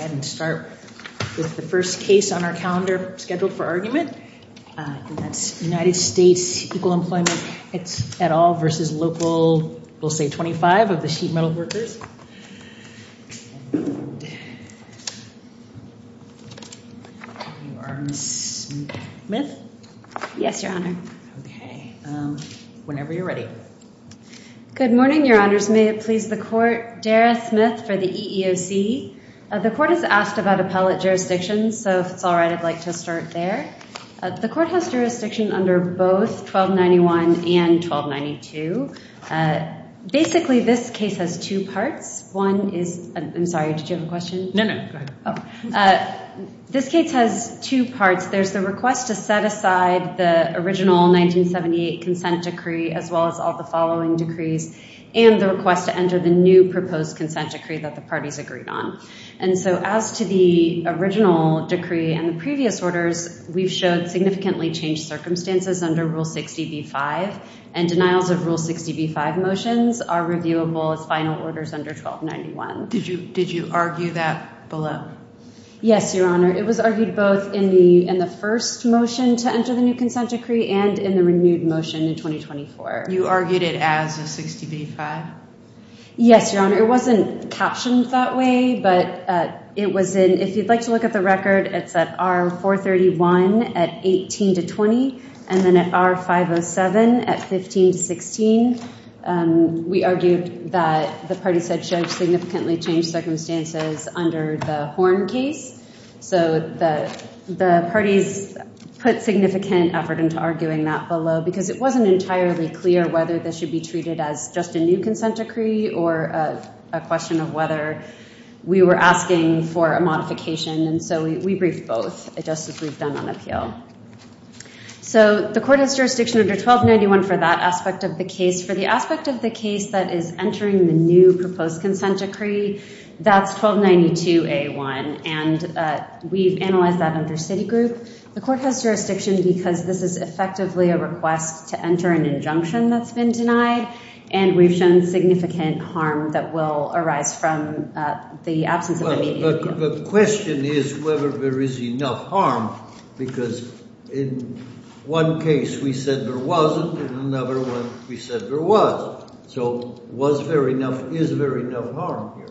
and start with the first case on our calendar scheduled for argument. That's United States Equal Employment, it's at all versus local we'll say 25 of the sheet metal workers. Smith? Yes, Your Honor. Okay, whenever you're ready. Good morning, Your Honors. May it Smith for the EEOC. The court has asked about appellate jurisdictions so if it's all right I'd like to start there. The court has jurisdiction under both 1291 and 1292. Basically this case has two parts. One is, I'm sorry did you have a question? No, no. This case has two parts. There's the request to set aside the original 1978 consent decree as well as all the following decrees and the request to enter the new proposed consent decree that the parties agreed on. And so as to the original decree and the previous orders, we've showed significantly changed circumstances under Rule 60b-5 and denials of Rule 60b-5 motions are reviewable as final orders under 1291. Did you did you argue that below? Yes, Your Honor. It was argued both in the in the first motion to enter the new consent decree and in the renewed motion in 2024. You argued it as a 60b-5? Yes, Your Honor. It wasn't captioned that way but it was in, if you'd like to look at the record, it's at R431 at 18 to 20 and then at R507 at 15 to 16. We argued that the party said judge significantly changed circumstances under the Horn case. So the parties put significant effort into arguing that below because it wasn't entirely clear whether this should be treated as just a new consent decree or a question of whether we were asking for a modification. And so we briefed both, just as we've done on appeal. So the court has jurisdiction under 1291 for that aspect of the case. For the aspect of the case that is entering the new proposed consent decree, that's 1292-A1 and we've analyzed that under Citigroup. The court has jurisdiction because this is effectively a request to enter an injunction that's been denied and we've shown significant harm that will arise from the absence of a median appeal. The question is whether there is enough harm because in one case we said there wasn't, in another one we said there was. So was there enough, is there enough harm here?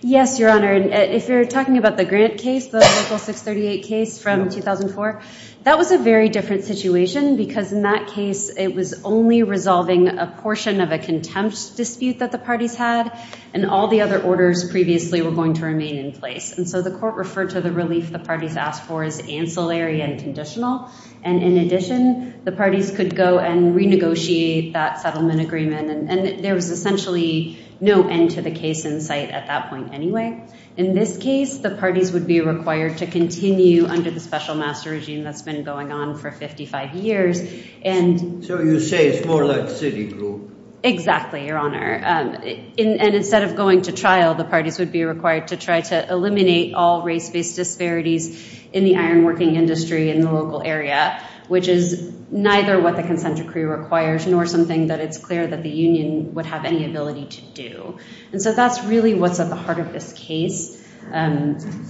Yes, Your Honor. If you're talking about the Grant case, the local 638 case from 2004, that was a very different situation because in that case it was only resolving a portion of a contempt dispute that the parties had and all the other orders previously were going to remain in place. And so the court referred to the relief the parties asked for as ancillary and conditional and in addition the parties could go and renegotiate that settlement agreement and there was essentially no end to the case in sight at that point anyway. In this case, the parties would be required to continue under the special master regime that's been going on for 55 years and... So you say it's more like Citigroup? Exactly, Your Honor. And instead of going to trial, the parties would be required to try to eliminate all race-based disparities in the ironworking industry in the local area, which is neither what the consent decree requires nor something that it's clear that the Union would have any ability to do. And so that's really what's at the heart of this case,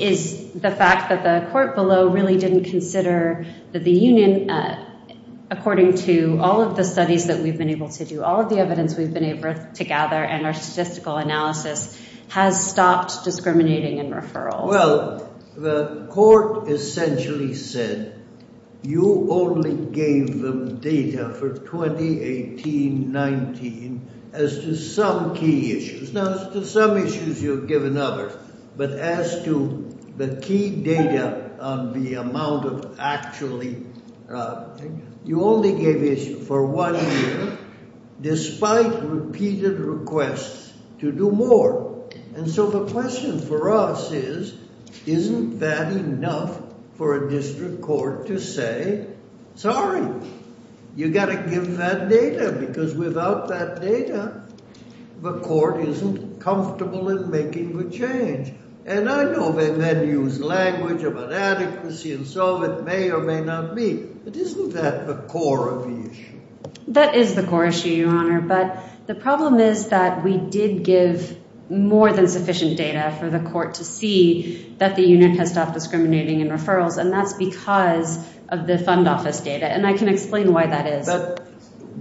is the fact that the court below really didn't consider that the Union, according to all of the studies that we've been able to do, all of the evidence we've been able to gather and our statistical analysis, has stopped discriminating in referral. Well, the court essentially said you only gave them data for 2018-19 as to some key issues. Now, as to some issues you've given others, but as to the key data on the amount of actually... You only gave it for one year, despite repeated requests to do more. And so the question for us is, isn't that enough for a district court to say, sorry, you got to give that data because without that data, the court isn't comfortable in making the change. And I know they then use language of inadequacy and so it may or may not be, but isn't that the core of the issue? That is the core issue, Your Honor, but the problem is that we did give more than sufficient data for the court to see that the unit has stopped discriminating in referrals, and that's because of the fund office data, and I can explain why that is. But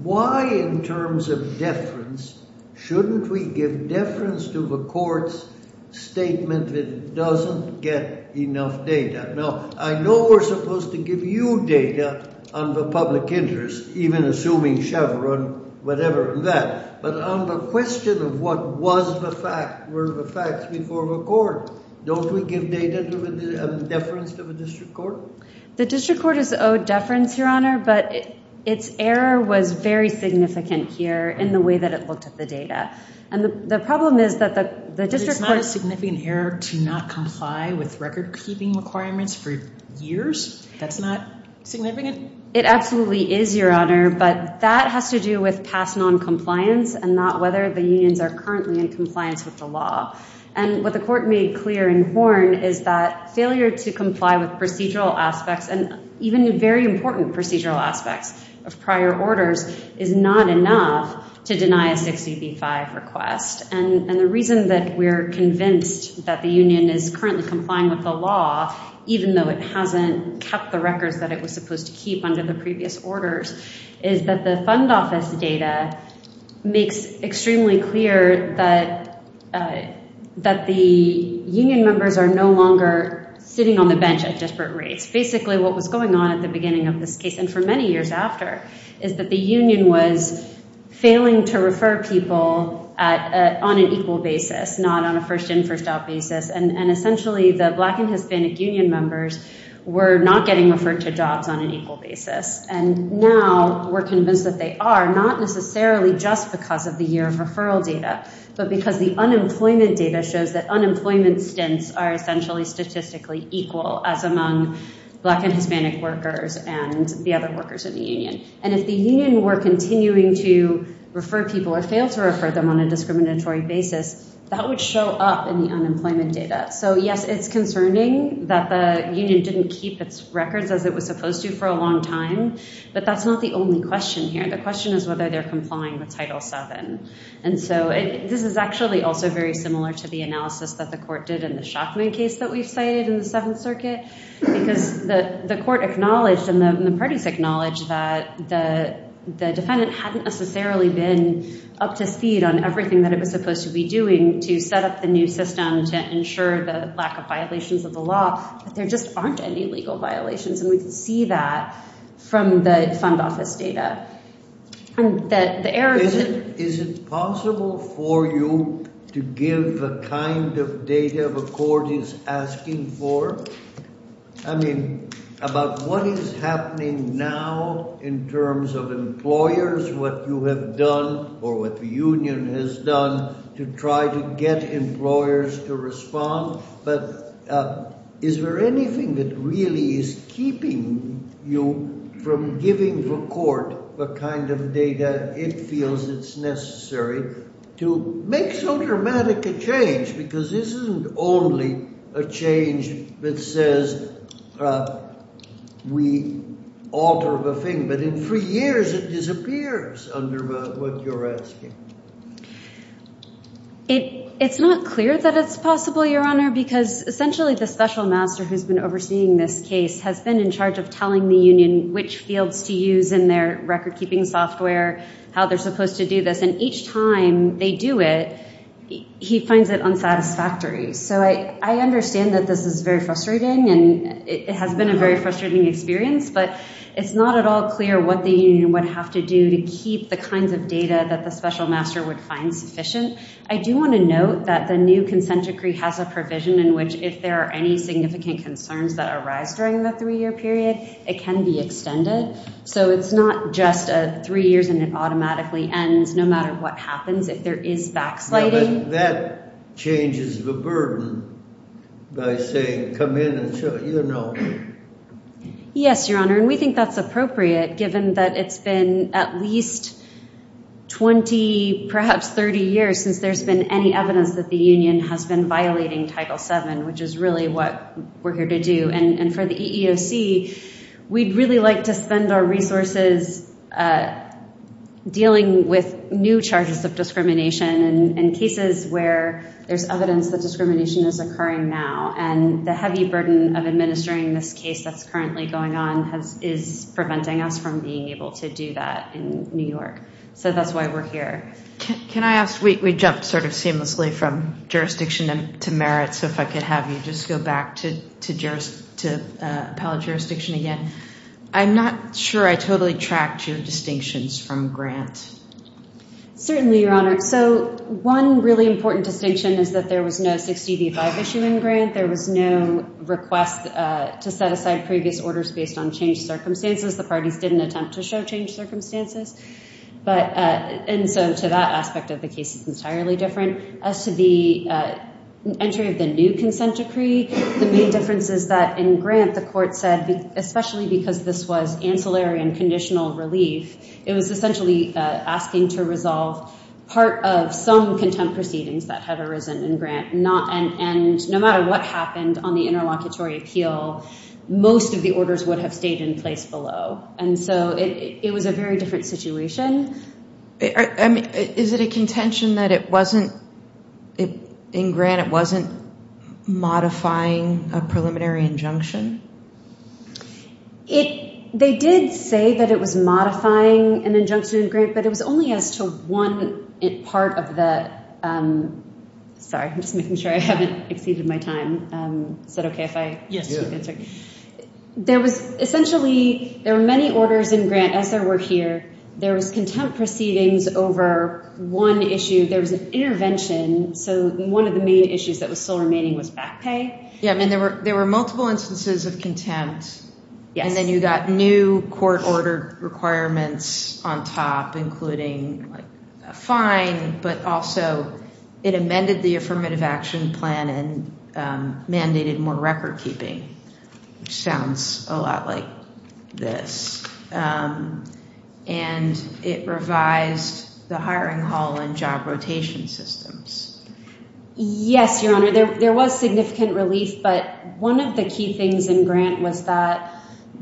why, in terms of deference, shouldn't we give deference to the court's statement that doesn't get enough data? Now, I know we're supposed to give you data on the public interest, even assuming Chevron, whatever, and that, but on the question of what was the fact, were the facts before the court, don't we give deference to the district court? The district court is owed deference, Your Honor, but its error was very significant here in the way that it looked at the data. And the problem is that the district court... It's not a significant error to not comply with record-keeping requirements for years? That's not significant? It absolutely is, Your Honor, but that has to do with past non-compliance and not whether the unions are currently in compliance with the law. And what the court made clear in Horn is that failure to comply with procedural aspects, and even very important procedural aspects of prior orders, is not enough to deny a 60B-5 request. And the reason that we're convinced that the union is currently complying with the law, even though it hasn't kept the records that it was supposed to keep under the previous orders, is that the fund office data makes extremely clear that the union members are no longer sitting on the bench at desperate rates. Basically, what was going on at the beginning of this case, and for many years after, is that the union was failing to refer people on an equal basis, not on a first-in, first-out basis. And essentially, the Black and Hispanic union members were not getting referred to jobs on an equal basis. And now we're convinced that they are, not necessarily just because of the year of referral data, but because the unemployment data shows that unemployment stints are essentially statistically equal as among Black and Hispanic workers and the other workers in the union. And if the union were continuing to refer people or fail to refer them on a discriminatory basis, that would show up in the unemployment data. So yes, it's concerning that the union didn't keep its records as it was supposed to for a long time, but that's not the only question here. The question is whether they're complying with Title VII. And so this is actually also very similar to the analysis that the court did in the Schachman case that we've cited in the Seventh Circuit, because the court acknowledged, and the parties acknowledged, that the defendant hadn't necessarily been up to speed on everything that it was supposed to be doing to set up the new system to ensure the lack of violations of the law, but there just aren't any legal violations. And we can see that from the fund office data. Is it possible for you to give the kind of data the court is asking for? I mean, about what is happening now in terms of employers, what you have done or what the union has done to try to get employers to respond, but is there anything that really is keeping you from giving the court the kind of data it feels it's necessary to make so dramatic a change? Because this isn't only a change that says we alter the law, but in three years it disappears under what you're asking. It's not clear that it's possible, Your Honor, because essentially the special master who's been overseeing this case has been in charge of telling the union which fields to use in their record-keeping software, how they're supposed to do this, and each time they do it, he finds it unsatisfactory. So I understand that this is very frustrating, and it has been a very frustrating experience, but it's not at all clear what the union would have to do to keep the kinds of data that the special master would find sufficient. I do want to note that the new consent decree has a provision in which if there are any significant concerns that arise during the three-year period, it can be extended. So it's not just a three years and it automatically ends no matter what happens if there is backsliding. That changes the burden by saying come in and show, you know. Yes, Your Honor, and we think that's appropriate given that it's been at least 20, perhaps 30 years since there's been any evidence that the union has been violating Title VII, which is really what we're here to do. And for the EEOC, we'd really like to spend our resources dealing with new charges of discrimination and cases where there's evidence that discrimination is occurring now, and the burden of administering this case that's currently going on is preventing us from being able to do that in New York. So that's why we're here. Can I ask, we jumped sort of seamlessly from jurisdiction to merit, so if I could have you just go back to appellate jurisdiction again. I'm not sure I totally tracked your distinctions from Grant. Certainly, Your Honor. So one really important distinction is that there was no 60 v. 5 issue in Grant. There was no request to set aside previous orders based on changed circumstances. The parties didn't attempt to show changed circumstances. And so to that aspect of the case, it's entirely different. As to the entry of the new consent decree, the main difference is that in Grant, the court said, especially because this was ancillary and conditional relief, it was essentially asking to resolve part of some contempt proceedings that had arisen in Grant, and no matter what happened on the interlocutory appeal, most of the orders would have stayed in place below. And so it was a very different situation. I mean, is it a contention that it wasn't, in Grant, it wasn't modifying a preliminary injunction? It, they did say that it was modifying an injunction in Grant, but it was only as to one part of the, sorry, I'm just making sure I haven't exceeded my time. Is that okay if I? Yes. There was essentially, there were many orders in Grant as there were here. There was contempt proceedings over one issue. There was an intervention, so one of the main issues that was still remaining was back pay. Yeah, I mean, there were, there were multiple instances of contempt. Yes. And then you got new court-ordered requirements on top, including a fine, but also it amended the affirmative action plan and mandated more record-keeping, which sounds a lot like this. And it revised the hiring hall and job rotation systems. Yes, Your Honor, there was significant relief, but one of the key things in Grant was that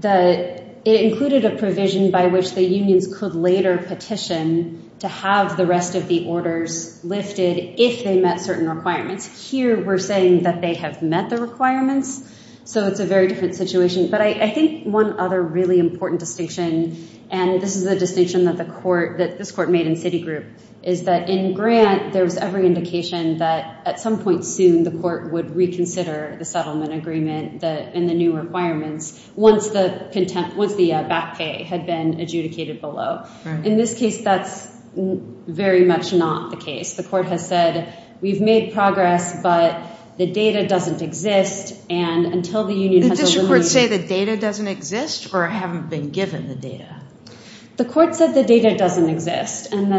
it included a provision by which the unions could later petition to have the rest of the orders lifted if they met certain requirements. Here, we're saying that they have met the requirements, so it's a very different situation. But I think one other really important distinction, and this is the distinction that the court, that this court made in Citigroup, is that in Grant there was every indication that at some point soon the court would reconsider the settlement agreement and the new requirements once the contempt, once the back pay had been adjudicated below. In this case, that's very much not the case. The court has said, we've made progress, but the data doesn't exist, and until the union has eliminated... The district court say the data doesn't exist or haven't been given the data? The court said the data doesn't exist, and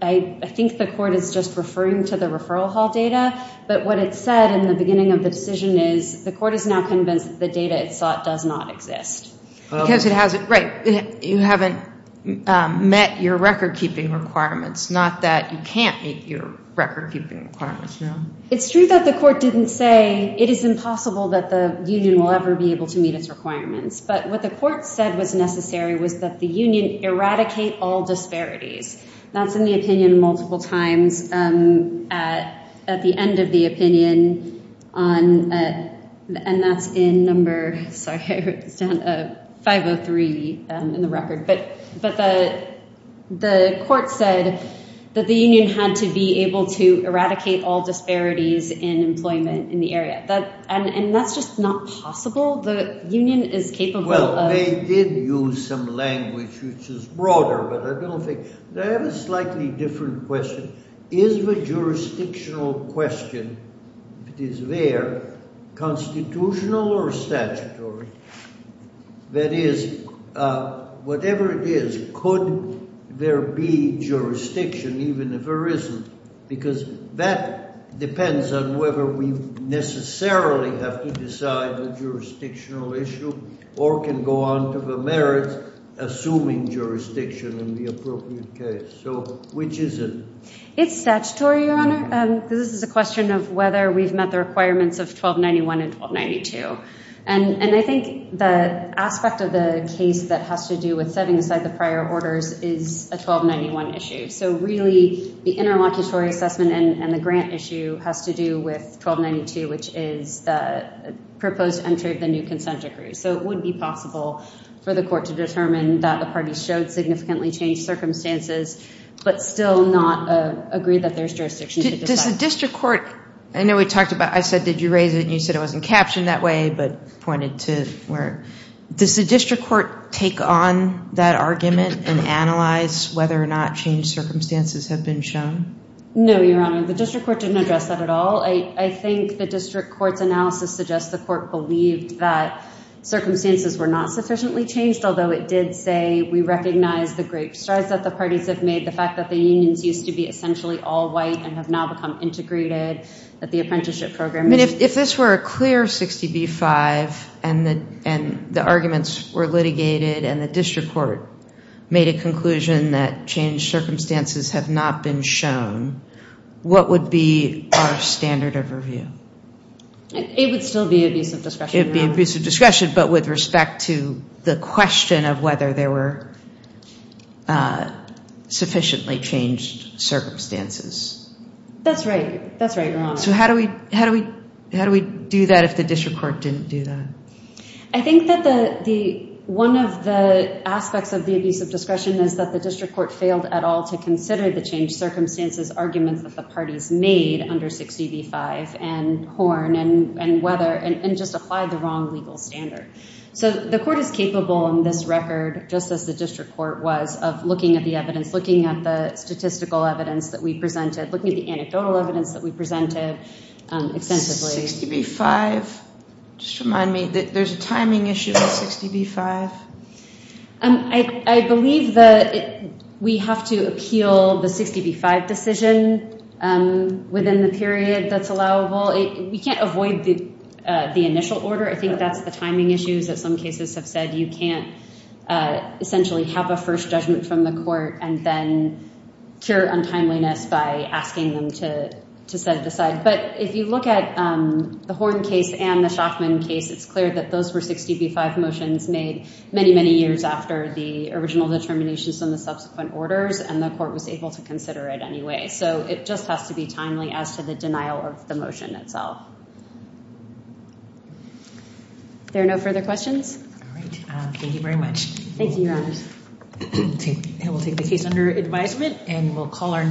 I think the court is just referring to the referral hall data, but what it said in the beginning of the decision is the court is now convinced that the data it sought does not exist. Because it hasn't... Right, you haven't met your record-keeping requirements, not that you can't meet your record-keeping requirements. It's true that the court didn't say it is impossible that the union will ever be able to meet its requirements, but what the court said was necessary was that the union eradicate all disparities. That's in the opinion multiple times at the end of the opinion, and that's in number 503 in the record, but the court said that the union had to be able to eradicate all disparities in employment in the area, and that's just not possible? The union is capable of... Well, they did use some language which is broader, but I don't think... I have a slightly different question. Is the jurisdictional question, if it is there, constitutional or statutory? That is, whatever it is, could there be jurisdiction even if there isn't? Because that depends on whether we necessarily have to decide the jurisdictional issue or can go on to the merits assuming jurisdiction in the appropriate case. So, which is it? It's statutory, Your Honor. This is a question of whether we've met the requirements of 1291 and 1292, and I think the aspect of the case that has to do with setting aside the prior orders is a 1291 issue. So really, the interlocutory assessment and the grant issue has to do with 1292, which is the proposed entry of the new consent decree. So it would be possible for the court to determine that the parties showed significantly changed circumstances, but still not agree that there's jurisdiction to decide. Does the district court... I know we talked about... I said, did you raise it, and you said it wasn't captioned that way, but pointed to where... Does the district court take on that argument and analyze whether or not changed circumstances have been shown? No, Your Honor. The district court didn't address that at all. I think the district court's analysis suggests the court believed that circumstances were not sufficiently changed, although it did say, we recognize the great strides that the parties have made, the fact that the unions used to be essentially all white and have now become integrated, that the apprenticeship program... I mean, if this were a clear 60b-5, and the arguments were litigated, and the district court made a conclusion that changed circumstances have not been shown, what would be our standard of review? It would still be abuse of discretion. It would be abuse of discretion, but with respect to the question of whether there were sufficiently changed circumstances. That's right. That's right, Your Honor. So how do we do that if the district court didn't do that? I think that one of the aspects of the abuse of discretion is that the district court failed at all to consider the changed circumstances arguments that the parties made under 60b-5, and Horn, and Weather, and just applied the wrong legal standard. So the court is capable in this record, just as the district court was, of looking at the evidence, looking at the statistical evidence that we presented, looking at the anecdotal evidence that we presented extensively. 60b-5. Just remind me that there's a timing issue with 60b-5. I believe that we have to appeal the 60b-5 decision within the period that's allowable. We can't avoid the initial order. I think that's the timing issues that some cases have said you can't essentially have a first judgment from the court and then cure untimeliness by asking them to set it aside. But if you look at the Horn case and the Schachmann case, it's clear that those were 60b-5 motions made many, many years after the original determinations from the subsequent orders, and the court was able to consider it anyway. So it just has to be timely as to the of the motion itself. There are no further questions? All right. Thank you very much. Thank you, Your Honor. We'll take the case under advisement, and we'll call our